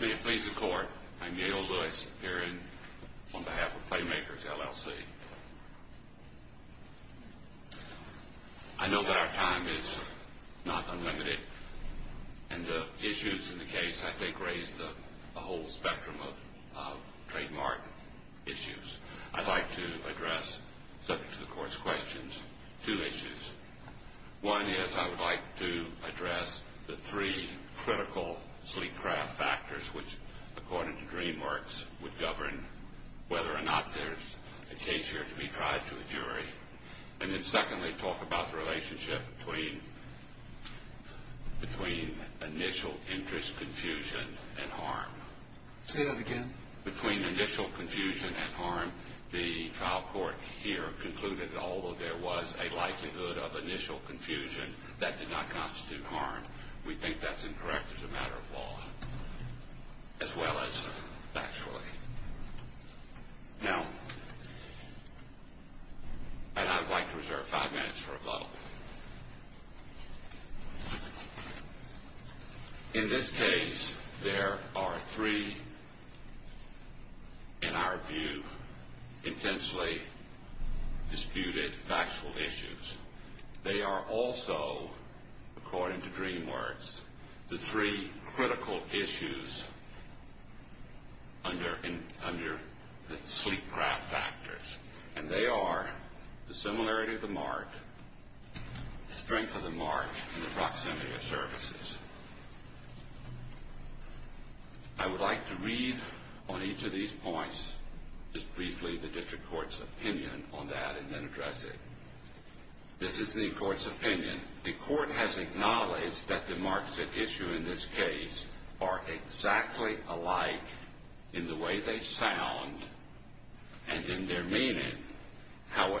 May it please the Court, I'm Yale Lewis here on behalf of Playmakers LLC. I know that our time is not unlimited, and the issues in the case I think raise the whole spectrum of trademark issues. I'd like to address, subject to the Court's questions, two issues. One is, I would like to address the three critical sleep-craft factors which, according to DreamWorks, would govern whether or not there's a case here to be tried to a jury. And then secondly, talk about the relationship between initial interest confusion and harm. Say that again. Between initial confusion and harm, the trial court here concluded that although there was a likelihood of initial confusion, that did not constitute harm. We think that's incorrect as a matter of law, as well as factually. Now, and I'd like to reserve five minutes for rebuttal. In this case, there are three, in our view, intensely disputed factual issues. They are also, according to DreamWorks, the three critical issues under the sleep-craft factors. And they are the similarity of the mark, the strength of the mark, and the proximity of services. I would like to read on each of these points, just briefly, the district court's opinion on that, and then address it. Again, the court has acknowledged that the marks at issue in this case are exactly alike in the way they sound and in their meaning.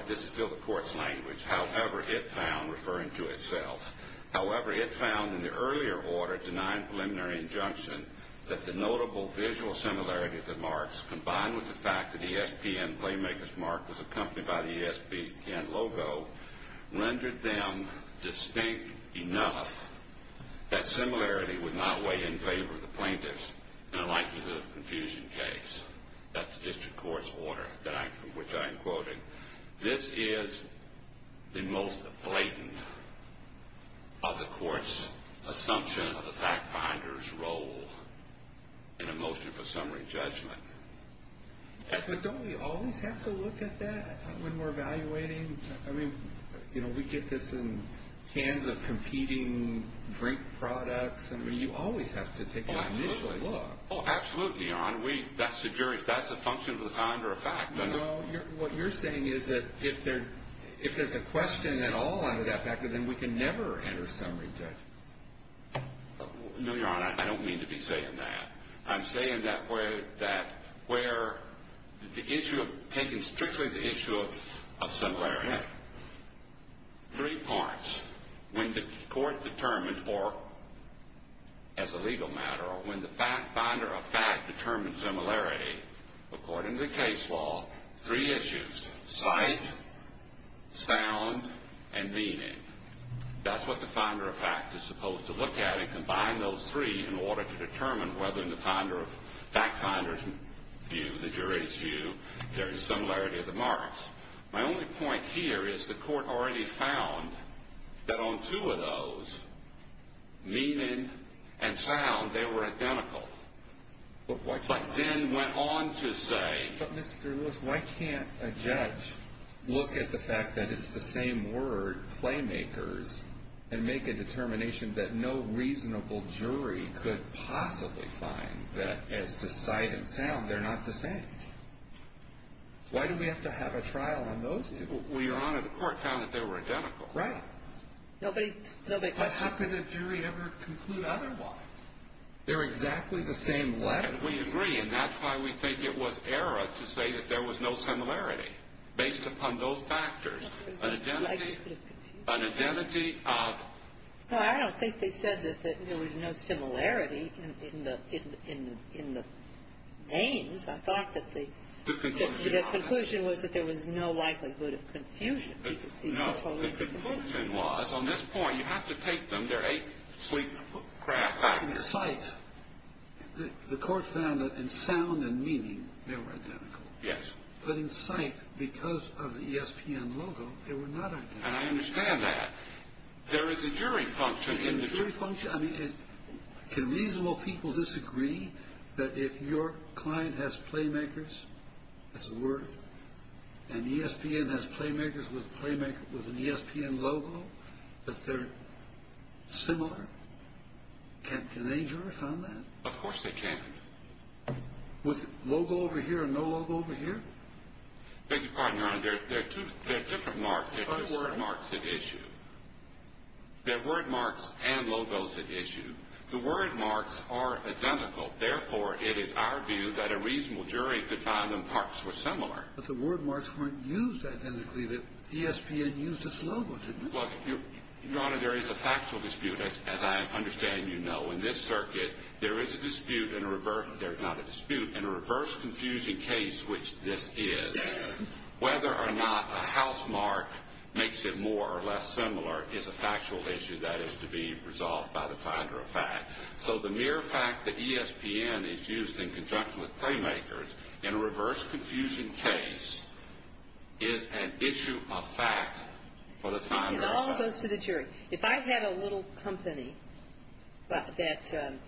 This is still the court's language. However, it found, referring to itself, however, it found in the earlier order denying preliminary injunction that the notable visual similarity of the marks, was distinct enough that similarity would not weigh in favor of the plaintiffs in a likelihood of confusion case. That's the district court's order, which I am quoting. This is the most blatant of the court's assumption of the fact-finder's role in a motion for summary judgment. But don't we always have to look at that when we're evaluating? I mean, you know, we get this in cans of competing drink products. I mean, you always have to take an initial look. Oh, absolutely, Your Honor. That's the jury. If that's a function of the time or a fact. No, what you're saying is that if there's a question at all under that factor, then we can never enter summary judgment. No, Your Honor. I don't mean to be saying that. I'm saying that where the issue, taking strictly the issue of similarity, three parts. When the court determines, or as a legal matter, or when the fact-finder of fact determines similarity, according to the case law, three issues. Sight, sound, and meaning. That's what the finder of fact is supposed to look at and combine those three in order to determine whether in the fact-finder's view, the jury's view, there is similarity of the marks. My only point here is the court already found that on two of those, meaning and sound, they were identical. But then went on to say. But, Mr. Lewis, why can't a judge look at the fact that it's the same word, playmakers, and make a determination that no reasonable jury could possibly find that as to sight and sound, they're not the same? Why do we have to have a trial on those two? Well, Your Honor, the court found that they were identical. Right. Nobody questioned. How could a jury ever conclude otherwise? They're exactly the same letter. And we agree. And that's why we think it was error to say that there was no similarity based upon those factors. An identity of. Well, I don't think they said that there was no similarity in the names. I thought that the. The conclusion. The conclusion was that there was no likelihood of confusion. The conclusion was, on this point, you have to take them. They're a sleek craft. In sight, the court found that in sound and meaning, they were identical. Yes. But in sight, because of the ESPN logo, they were not identical. And I understand that. There is a jury function. There's a jury function. Can reasonable people disagree that if your client has playmakers, that's a word, and ESPN has playmakers with an ESPN logo, that they're similar? Can a jury find that? Of course they can. With logo over here and no logo over here? Beg your pardon, Your Honor. They're different marks. They're word marks at issue. They're word marks and logos at issue. The word marks are identical. Therefore, it is our view that a reasonable jury could find them parts were similar. But the word marks weren't used identically. The ESPN used its logo, didn't it? Well, Your Honor, there is a factual dispute, as I understand you know. In this circuit, there is a dispute and a reverse – there's not a dispute – and a reverse confusing case, which this is. Whether or not a house mark makes it more or less similar is a factual issue. That is to be resolved by the finder of fact. So the mere fact that ESPN is used in conjunction with playmakers in a reverse confusion case is an issue of fact for the finder of fact. It all goes to the jury. If I had a little company that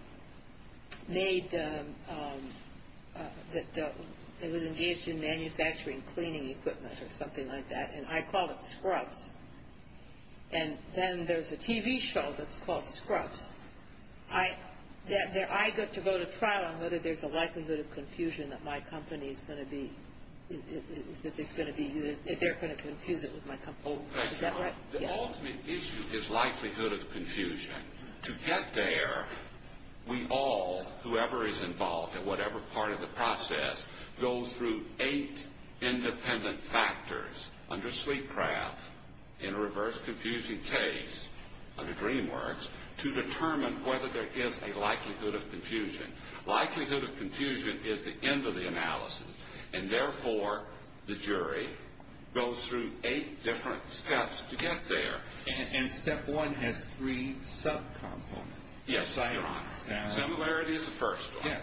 made – that was engaged in manufacturing cleaning equipment or something like that, and I call it Scrubs, and then there's a TV show that's called Scrubs, I get to go to trial on whether there's a likelihood of confusion that my company is going to be – that there's going to be – that they're going to confuse it with my company. Is that right? The ultimate issue is likelihood of confusion. To get there, we all, whoever is involved in whatever part of the process, goes through eight independent factors under Sweetcraft in a reverse confusion case, under DreamWorks, to determine whether there is a likelihood of confusion. Likelihood of confusion is the end of the analysis, and therefore the jury goes through eight different steps to get there. And step one has three sub-components. Yes, Your Honor. Similarities of first one. Yeah.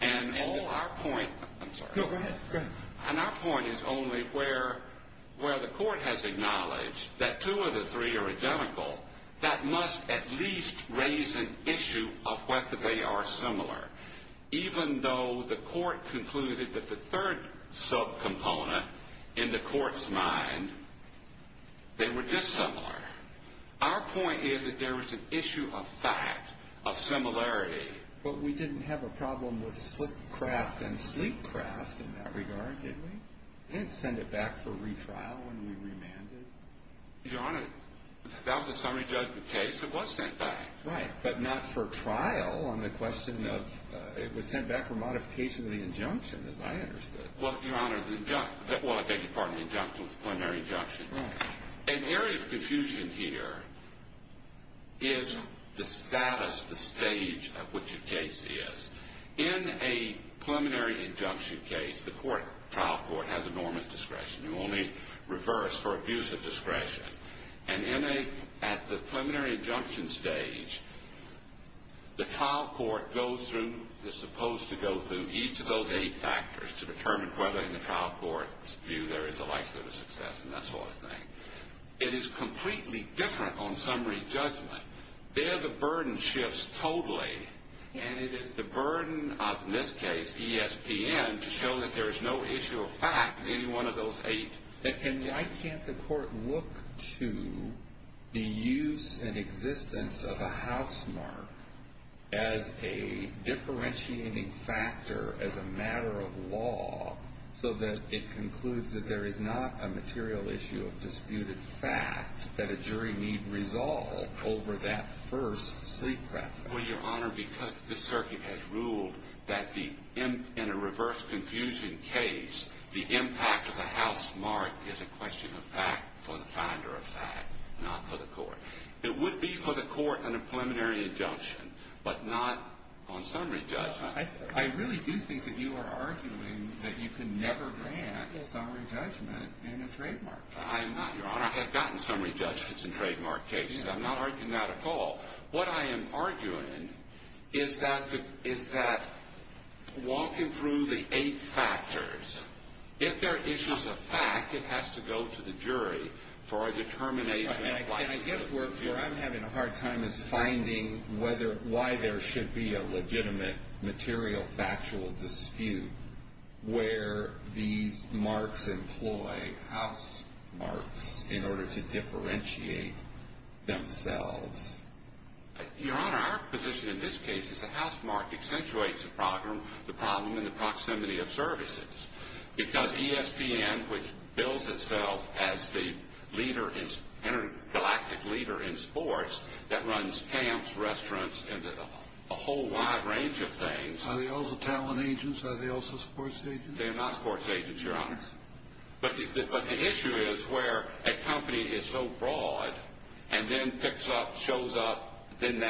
And all our point – I'm sorry. No, go ahead. Go ahead. And our point is only where the court has acknowledged that two of the three are identical, that must at least raise an issue of whether they are similar. Even though the court concluded that the third sub-component in the court's mind, they were dissimilar. Our point is that there is an issue of fact, of similarity. But we didn't have a problem with Slipcraft and Sleepcraft in that regard, did we? We didn't send it back for retrial when we remanded. Your Honor, that was a summary judgment case. It was sent back. Right. But not for trial on the question of – it was sent back for modification of the injunction, as I understood. Well, Your Honor, the – well, I beg your pardon, the injunction was a preliminary injunction. Right. An area of confusion here is the status, the stage at which a case is. In a preliminary injunction case, the trial court has a normant discretion. You only reverse for abuse of discretion. And in a – at the preliminary injunction stage, the trial court goes through, is supposed to go through, each of those eight factors to determine whether in the trial court's view there is a likelihood of success and that sort of thing. It is completely different on summary judgment. There the burden shifts totally, and it is the burden of, in this case, ESPN, to show that there is no issue of fact in any one of those eight. And why can't the court look to the use and existence of a housemark as a differentiating factor, as a matter of law, so that it concludes that there is not a material issue of disputed fact that a jury need resolve over that first sleep preference? Well, Your Honor, because the circuit has ruled that the – in a reverse confusion case, the impact of the housemark is a question of fact for the finder of fact, not for the court. It would be for the court on a preliminary injunction, but not on summary judgment. I really do think that you are arguing that you can never grant a summary judgment in a trademark case. I am not, Your Honor. I have gotten summary judgments in trademark cases. I'm not arguing that at all. What I am arguing is that walking through the eight factors, if there are issues of fact, it has to go to the jury for a determination of why. And I guess where I'm having a hard time is finding why there should be a legitimate material factual dispute where these marks employ housemarks in order to differentiate themselves. Your Honor, our position in this case is the housemark accentuates the problem in the proximity of services because ESPN, which builds itself as the leader, intergalactic leader in sports, that runs camps, restaurants, and a whole wide range of things. Are they also talent agents? Are they also sports agents? They are not sports agents, Your Honor. But the issue is where a company is so broad and then picks up, shows up, then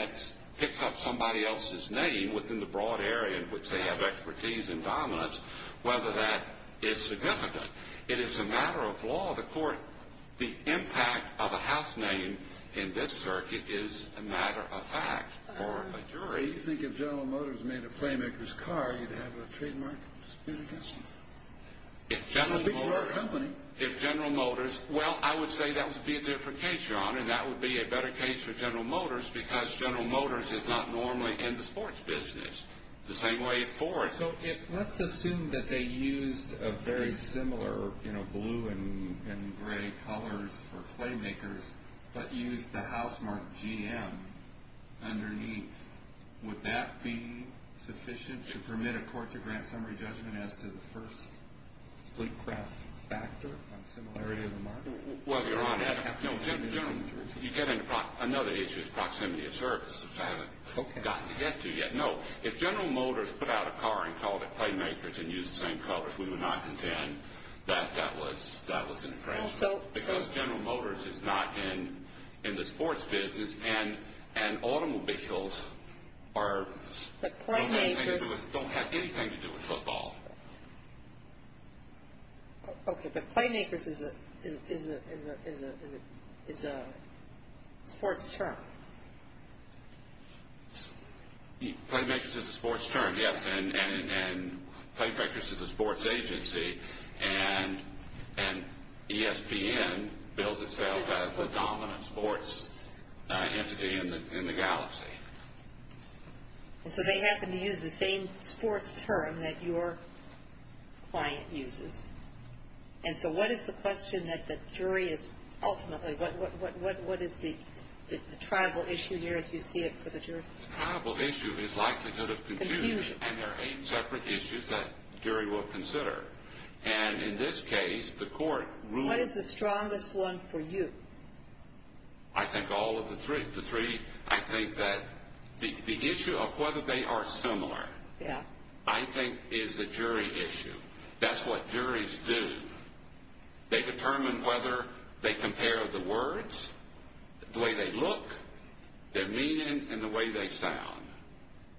picks up somebody else's name within the broad area in which they have expertise and dominance, whether that is significant. It is a matter of law of the court. The impact of a house name in this circuit is a matter of fact for a jury. So you think if General Motors made a Playmakers car, you'd have a trademark dispute against them? If General Motors, well, I would say that would be a different case, Your Honor, and that would be a better case for General Motors because General Motors is not normally in the sports business. It's the same way at Ford. So let's assume that they used a very similar blue and gray colors for Playmakers but used the house mark GM underneath. Would that be sufficient to permit a court to grant summary judgment as to the first sleep craft factor on similarity of the mark? Well, Your Honor, you get into another issue of proximity of service, which I haven't gotten to yet. No, if General Motors put out a car and called it Playmakers and used the same colors, we would not contend that that was an infringement. Because General Motors is not in the sports business, and automobiles don't have anything to do with football. Okay, but Playmakers is a sports term. Playmakers is a sports term, yes, and Playmakers is a sports agency, and ESPN bills itself as the dominant sports entity in the galaxy. So they happen to use the same sports term that your client uses. And so what is the question that the jury is ultimately, what is the tribal issue here as you see it for the jury? The tribal issue is likelihood of confusion, and there are eight separate issues that the jury will consider. And in this case, the court rules. What is the strongest one for you? I think all of the three. I think that the issue of whether they are similar I think is a jury issue. That's what juries do. They determine whether they compare the words, the way they look, their meaning, and the way they sound.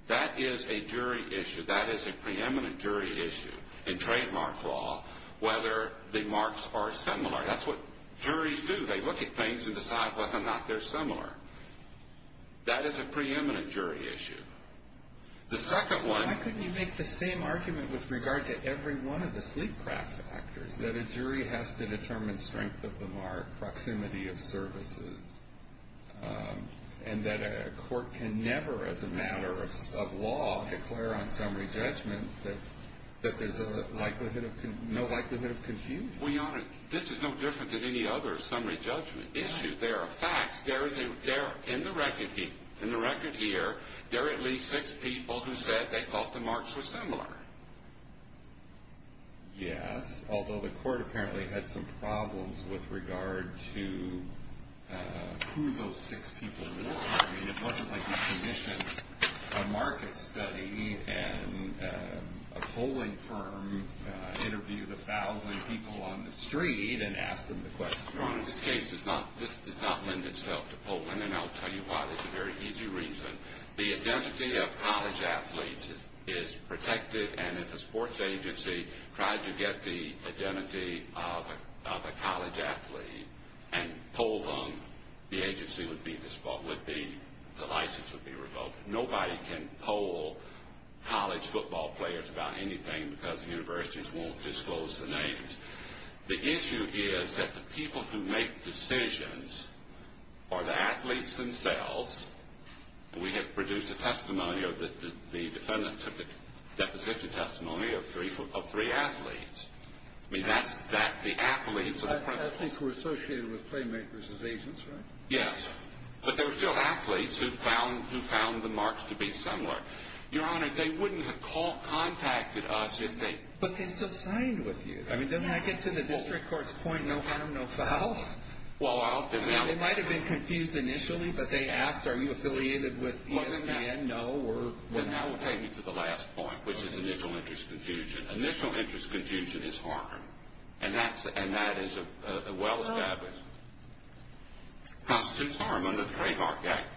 That is a jury issue. That is a preeminent jury issue in trademark law, whether the marks are similar. That's what juries do. They look at things and decide whether or not they're similar. That is a preeminent jury issue. The second one. Why couldn't you make the same argument with regard to every one of the sleep craft factors, that a jury has to determine strength of the mark, proximity of services, and that a court can never as a matter of law declare on summary judgment that there's no likelihood of confusion? Well, Your Honor, this is no different than any other summary judgment issue. There are facts. In the record here, there are at least six people who said they thought the marks were similar. Yes, although the court apparently had some problems with regard to who those six people were. It wasn't like you commissioned a market study and a polling firm interviewed a thousand people on the street and asked them the question. Your Honor, this case does not lend itself to polling, and I'll tell you why. There's a very easy reason. The identity of college athletes is protected, and if a sports agency tried to get the identity of a college athlete and polled them, the license would be revoked. Nobody can poll college football players about anything because the universities won't disclose the names. The issue is that the people who make decisions are the athletes themselves, and we have produced a testimony or the defendant took a deposition testimony of three athletes. I mean, that's the athletes. Athletes who were associated with Playmakers as agents, right? Yes, but there were still athletes who found the marks to be similar. Your Honor, they wouldn't have contacted us if they... But they still signed with you. I mean, doesn't that get to the district court's point, no harm, no foul? They might have been confused initially, but they asked, are you affiliated with ESPN? No, we're... And that will take me to the last point, which is initial interest confusion. Initial interest confusion is harm, and that is a well-established... No. ...constitutes harm under the Trademark Act.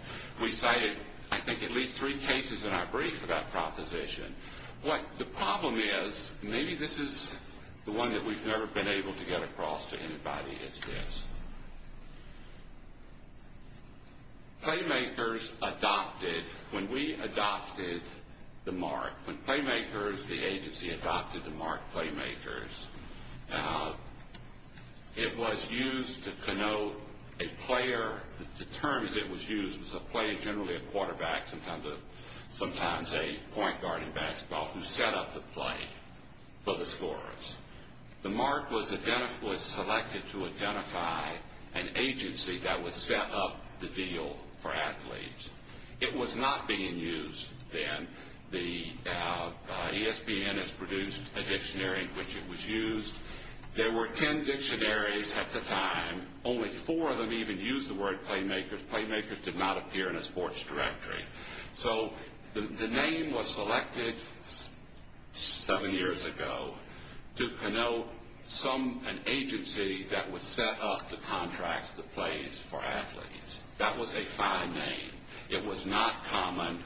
We cited, I think, at least three cases in our brief for that proposition. What the problem is, maybe this is the one that we've never been able to get across to anybody, is this. Playmakers adopted, when we adopted the mark, when Playmakers, the agency, adopted the mark Playmakers, it was used to connote a player. The term as it was used was a player, generally a quarterback, sometimes a point guard in basketball, who set up the play for the scorers. The mark was selected to identify an agency that would set up the deal for athletes. It was not being used then. The ESPN has produced a dictionary in which it was used. There were 10 dictionaries at the time. Only four of them even used the word Playmakers. Playmakers did not appear in a sports directory. So the name was selected seven years ago to connote an agency that would set up the contracts, the plays, for athletes. That was a fine name. It was not common.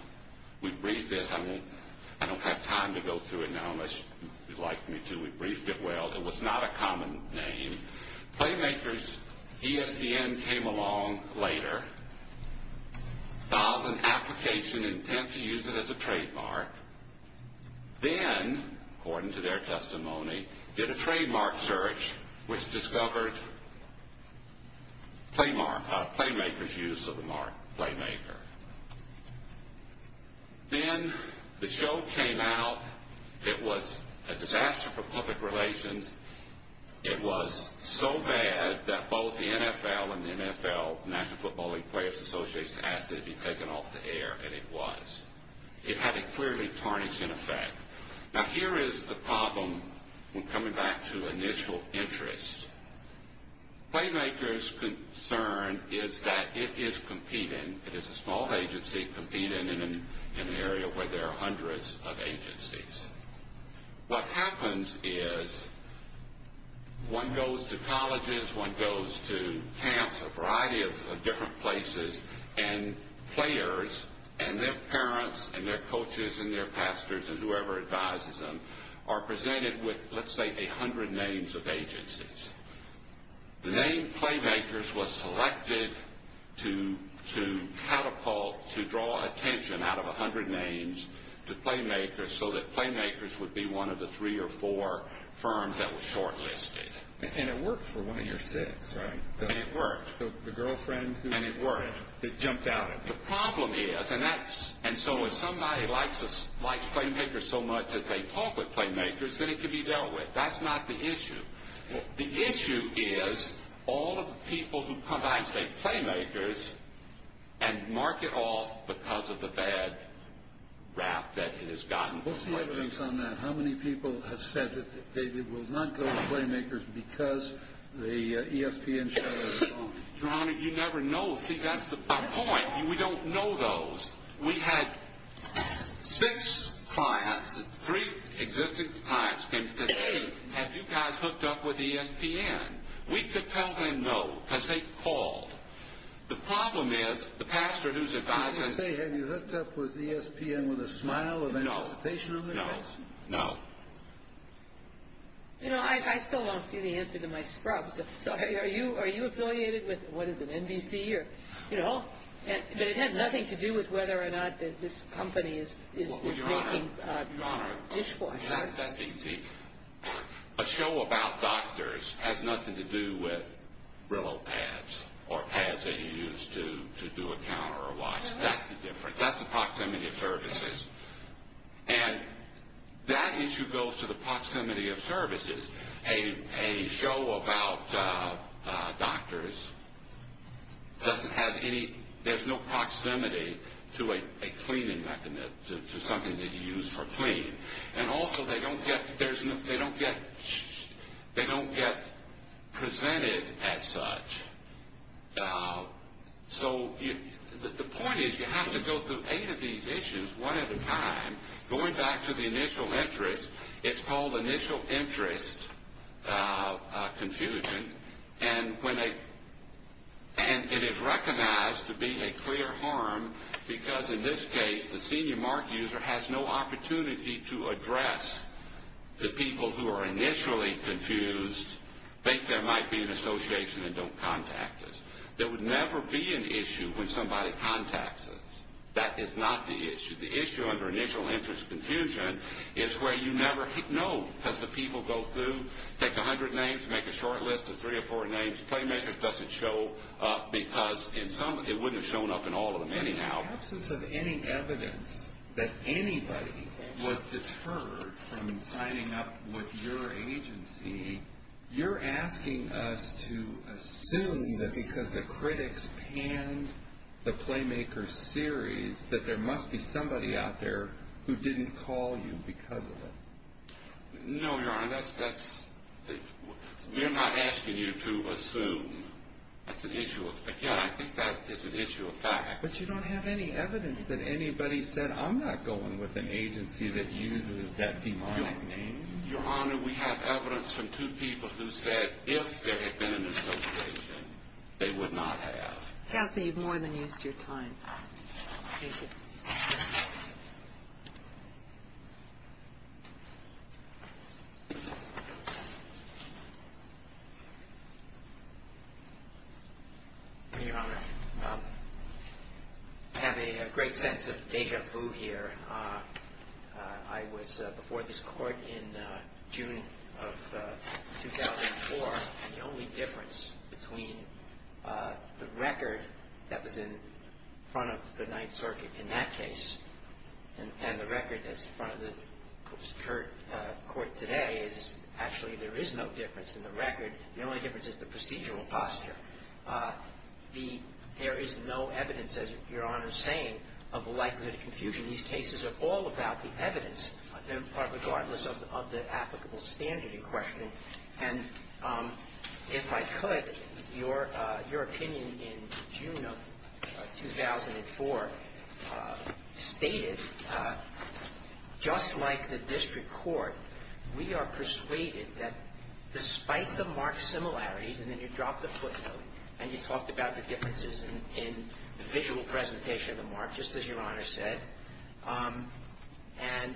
We briefed this. I don't have time to go through it now unless you'd like me to. We briefed it well. It was not a common name. Playmakers ESPN came along later, filed an application intent to use it as a trademark. Then, according to their testimony, did a trademark search, which discovered Playmakers' use of the mark Playmaker. Then the show came out. It was a disaster for public relations. It was so bad that both the NFL and the NFL, the National Football League Players Association, asked it to be taken off the air, and it was. It had a clearly tarnishing effect. Now, here is the problem when coming back to initial interest. Playmakers' concern is that it is competing. It is a small agency competing in an area where there are hundreds of agencies. What happens is one goes to colleges, one goes to camps, a variety of different places, and players and their parents and their coaches and their pastors and whoever advises them are presented with, let's say, a hundred names of agencies. The name Playmakers was selected to catapult, to draw attention out of a hundred names to Playmakers so that Playmakers would be one of the three or four firms that were shortlisted. And it worked for one of your six, right? And it worked. The girlfriend who jumped out at you. The problem is, and so if somebody likes Playmakers so much that they talk with Playmakers, then it can be dealt with. That's not the issue. The issue is all of the people who come back and say Playmakers and mark it off because of the bad rap that it has gotten. What's the evidence on that? How many people have said that they did not go to Playmakers because the ESPN show was wrong? Your Honor, you never know. See, that's the point. We don't know those. We had six clients, three existing clients, came to us and said, hey, have you guys hooked up with ESPN? We could tell them no because they called. The problem is the pastor who's advising. Can you say have you hooked up with ESPN with a smile, with anticipation of it? No, no, no. You know, I still don't see the answer to my scrub. So are you affiliated with, what is it, NBC or, you know? But it has nothing to do with whether or not this company is making dishwashers. Your Honor, that's easy. A show about doctors has nothing to do with Brillo pads or pads that you use to do a counter or wash. That's the difference. That's the proximity of services. And that issue goes to the proximity of services. A show about doctors doesn't have any, there's no proximity to a cleaning method, to something that you use for cleaning. And also they don't get presented as such. So the point is you have to go through eight of these issues one at a time. Going back to the initial interest, it's called initial interest confusion. And it is recognized to be a clear harm because in this case, the senior mark user has no opportunity to address the people who are initially confused, think there might be an association, and don't contact us. There would never be an issue when somebody contacts us. That is not the issue. The issue under initial interest confusion is where you never know. As the people go through, take a hundred names, make a short list of three or four names, Playmakers doesn't show up because it wouldn't have shown up in all of them anyhow. In the absence of any evidence that anybody was deterred from signing up with your agency, you're asking us to assume that because the critics panned the Playmakers series, that there must be somebody out there who didn't call you because of it. No, Your Honor. We're not asking you to assume. Again, I think that is an issue of fact. But you don't have any evidence that anybody said, I'm not going with an agency that uses that demonic name. Your Honor, we have evidence from two people who said, if there had been an association, they would not have. Counsel, you've more than used your time. Thank you. Your Honor, I have a great sense of deja vu here. I was before this Court in June of 2004, and the only difference between the record that was in front of the Ninth Circuit in that case and the record that's in front of the court today is actually there is no difference in the record. The only difference is the procedural posture. There is no evidence, as Your Honor is saying, of the likelihood of confusion. These cases are all about the evidence, regardless of the applicable standard in question. And if I could, your opinion in June of 2004 stated, just like the district court, we are persuaded that despite the marked similarities, and then you dropped the footnote and you talked about the differences in the visual presentation of the mark, just as Your Honor said, and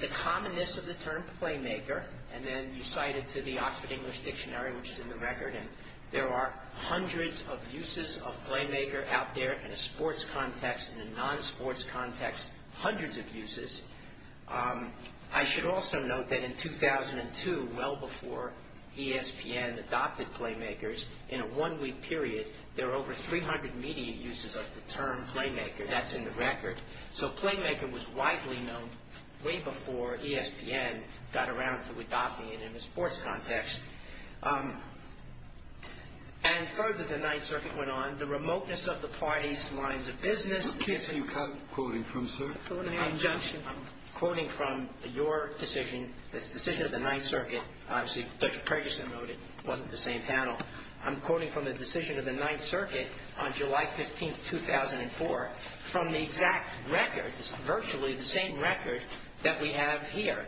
the commonness of the term playmaker, and then you cited to the Oxford English Dictionary, which is in the record, and there are hundreds of uses of playmaker out there in a sports context, in a non-sports context, hundreds of uses. I should also note that in 2002, well before ESPN adopted playmakers, in a one-week period, there were over 300 media uses of the term playmaker. That's in the record. So playmaker was widely known way before ESPN got around to adopting it in a sports context. And further, the Ninth Circuit went on, the remoteness of the parties, lines of business. What case are you quoting from, sir? Injunction. I'm quoting from your decision, this decision of the Ninth Circuit. Obviously, Judge Ferguson noted it wasn't the same panel. I'm quoting from the decision of the Ninth Circuit on July 15th, 2004, from the exact record, virtually the same record that we have here.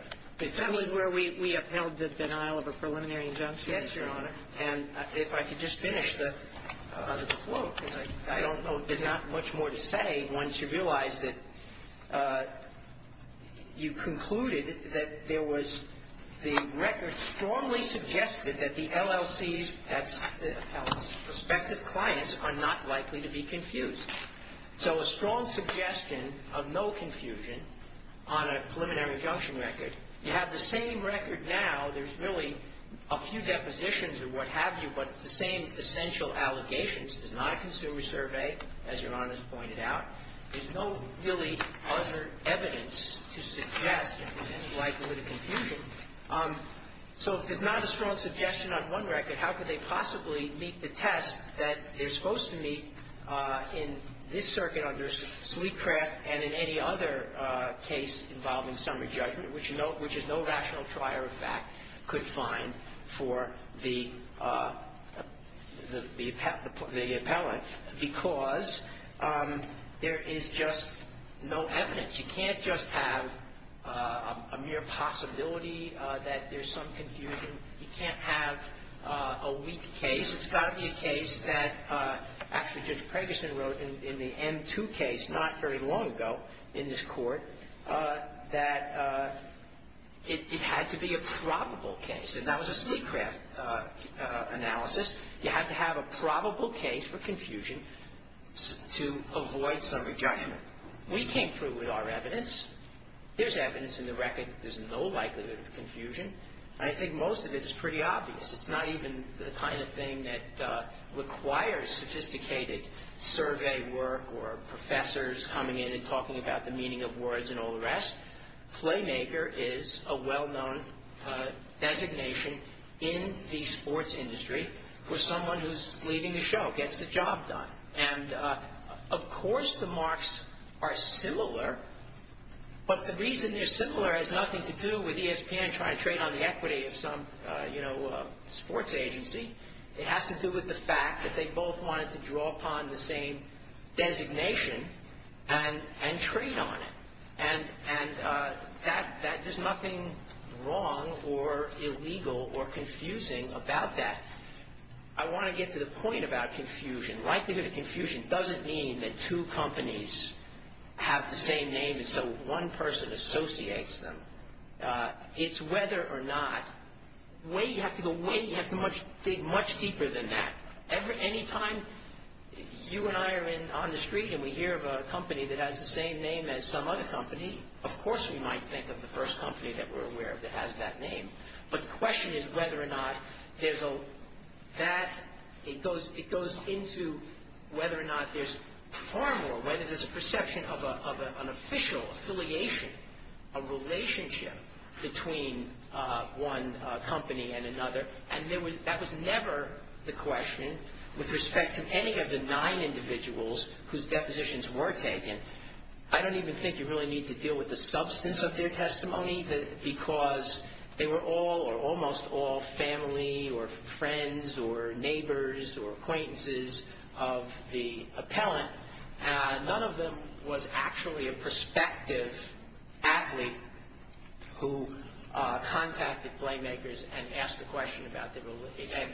That was where we upheld the denial of a preliminary injunction. Yes, Your Honor. And if I could just finish the quote, because I don't know, there's not much more to say once you realize that you concluded that there was the record strongly suggested that the LLC's prospective clients are not likely to be confused. So a strong suggestion of no confusion on a preliminary injunction record. You have the same record now. There's really a few depositions or what have you, but it's the same essential allegations. It's not a consumer survey, as Your Honor has pointed out. There's no really other evidence to suggest that they're likely to be confused. So if there's not a strong suggestion on one record, how could they possibly meet the test that they're supposed to meet in this circuit under Sleekcraft and in any other case involving which is no rational trier of fact could find for the appellant, because there is just no evidence. You can't just have a mere possibility that there's some confusion. You can't have a weak case. It's got to be a case that actually Judge Preggerson wrote in the M-2 case not very long ago in this Court that it had to be a probable case. And that was a Sleekcraft analysis. You had to have a probable case for confusion to avoid summary judgment. We came through with our evidence. There's evidence in the record that there's no likelihood of confusion. I think most of it is pretty obvious. It's not even the kind of thing that requires sophisticated survey work or professors coming in and talking about the meaning of words and all the rest. Playmaker is a well-known designation in the sports industry for someone who's leading the show, gets the job done. And of course the marks are similar, but the reason they're similar has nothing to do with ESPN trying to trade on the equity of some, you know, sports agency. It has to do with the fact that they both wanted to draw upon the same designation and trade on it. And there's nothing wrong or illegal or confusing about that. I want to get to the point about confusion. Likelihood of confusion doesn't mean that two companies have the same name and so one person associates them. It's whether or not, the way you have to go, the way you have to dig much deeper than that. Any time you and I are on the street and we hear about a company that has the same name as some other company, of course we might think of the first company that we're aware of that has that name. But the question is whether or not there's that. It goes into whether or not there's formal, whether there's a perception of an official affiliation, a relationship between one company and another. And that was never the question with respect to any of the nine individuals whose depositions were taken. I don't even think you really need to deal with the substance of their testimony because they were all or almost all family or friends or neighbors or acquaintances of the appellant. None of them was actually a prospective athlete who contacted playmakers and asked a question about their relationship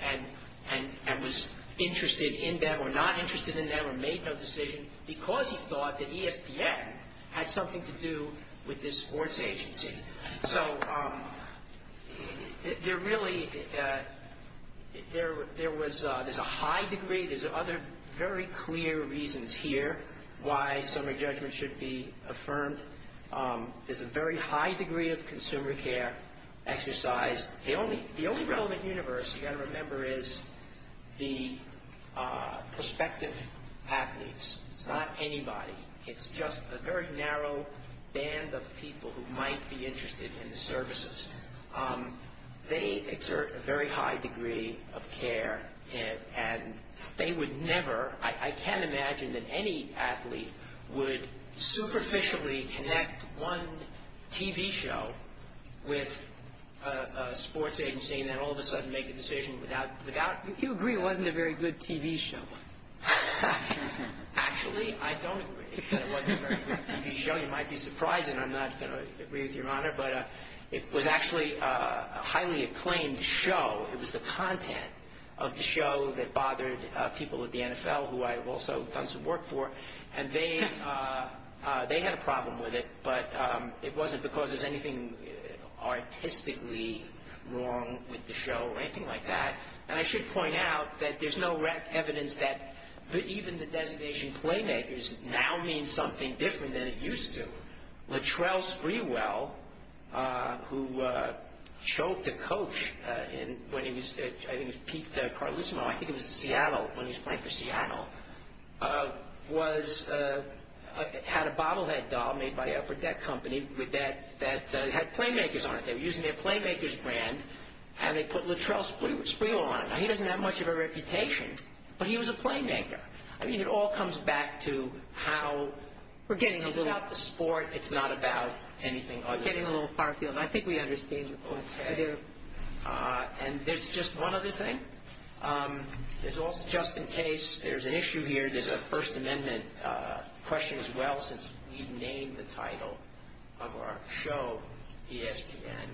and was interested in them or not interested in them or made no decision because he thought that ESPN had something to do with this sports agency. So there really, there was, there's a high degree, there's other very clear reasons here why summary judgment should be affirmed. There's a very high degree of consumer care exercised. The only relevant universe you got to remember is the prospective athletes. It's not anybody. It's just a very narrow band of people who might be interested in the services. They exert a very high degree of care and they would never, I can't imagine that any athlete would superficially connect one TV show with a sports agency and then all of a sudden make a decision without, without. You agree it wasn't a very good TV show. Actually, I don't agree. It wasn't a very good TV show. You might be surprised and I'm not going to agree with your honor, but it was actually a highly acclaimed show. It was the content of the show that bothered people at the NFL who I've also done some work for. And they, they had a problem with it, but it wasn't because there's anything artistically wrong with the show or anything like that. And I should point out that there's no evidence that even the designation Playmakers now means something different than it used to. Latrell Sprewell, who choked a coach when he was, I think it was Pete Carlissimo, I think it was Seattle, when he was playing for Seattle, was, had a bottle head doll made by the Upper Deck Company with that, that had Playmakers on it. They were using their Playmakers brand and they put Latrell Sprewell on it. Now, he doesn't have much of a reputation, but he was a Playmaker. I mean, it all comes back to how... We're getting a little... It's about the sport. It's not about anything other than... We're getting a little far field. I think we understand you. Okay. And there's just one other thing. There's also, just in case there's an issue here, there's a First Amendment question as well, since we named the title of our show ESPN,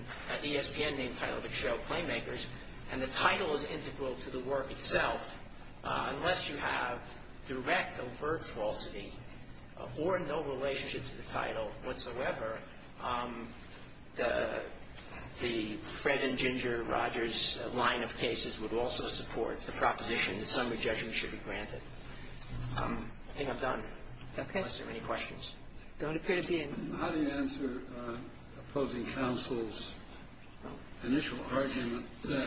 ESPN named the title of its show Playmakers, and the title is integral to the work itself. Unless you have direct overt falsity or no relationship to the title whatsoever, the Fred and Ginger Rogers line of cases would also support the proposition that summary judgment should be granted. I think I'm done. Okay. Unless there are any questions. There don't appear to be any. How do you answer opposing counsel's initial argument that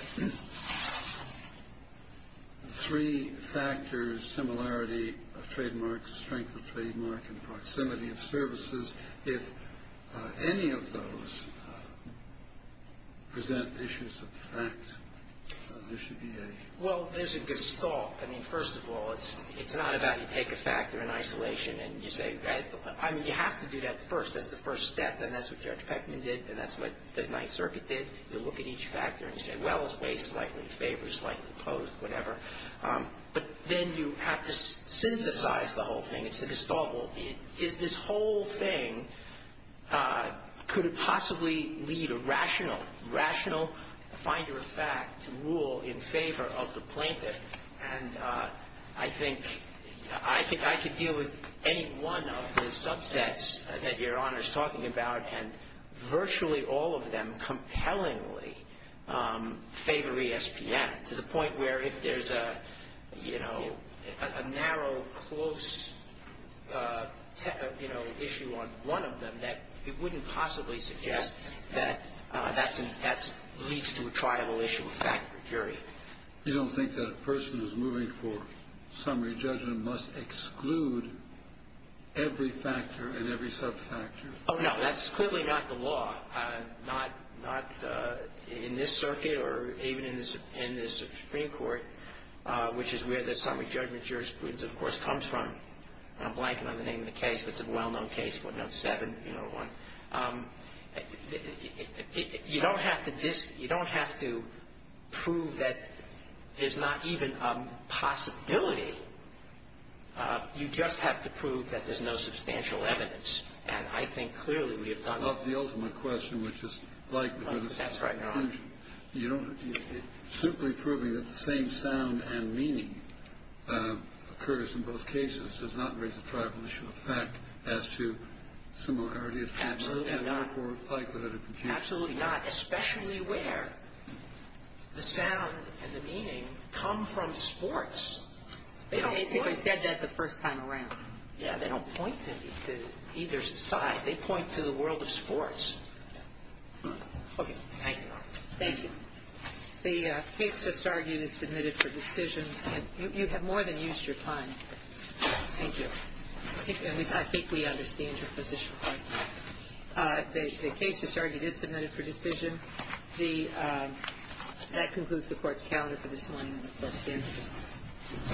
three factors, similarity of trademark, strength of trademark, and proximity of services, if any of those present issues of fact, there should be a... Well, there's a gestalt. I mean, first of all, it's not about you take a factor in isolation and you say... I mean, you have to do that first. That's the first step, and that's what Judge Peckman did, and that's what the Ninth Circuit did. You look at each factor and you say, well, it's way slightly in favor, slightly opposed, whatever. But then you have to synthesize the whole thing. It's the gestalt. Well, is this whole thing, could it possibly lead a rational, rational finder of fact to rule in favor of the plaintiff? And I think I could deal with any one of the subsets that Your Honor is talking about, and virtually all of them compellingly favor ESPN, to the point where if there's a narrow, close issue on one of them, that it wouldn't possibly suggest that that leads to a triable issue of fact for jury. You don't think that a person who's moving for summary judgment must exclude every factor and every subfactor? Oh, no. That's clearly not the law, not in this circuit or even in this Supreme Court, which is where the summary judgment jurisprudence, of course, comes from. I'm blanking on the name of the case, but it's a well-known case, Fortnote 7, you know, one. You don't have to prove that there's not even a possibility. You just have to prove that there's no substantial evidence. And I think clearly we have done that. Of the ultimate question, which is likelihood of confusion. That's right, Your Honor. Simply proving that the same sound and meaning occurs in both cases does not raise a triable issue of fact as to similarity. Absolutely not. And therefore, likelihood of confusion. Absolutely not, especially where the sound and the meaning come from sports. They basically said that the first time around. Yeah. They don't point to either side. They point to the world of sports. Okay. Thank you, Your Honor. Thank you. The case just argued is submitted for decision. You have more than used your time. Thank you. I think we understand your position. Thank you. The case just argued is submitted for decision. That concludes the Court's calendar for this morning. That stands adjourned.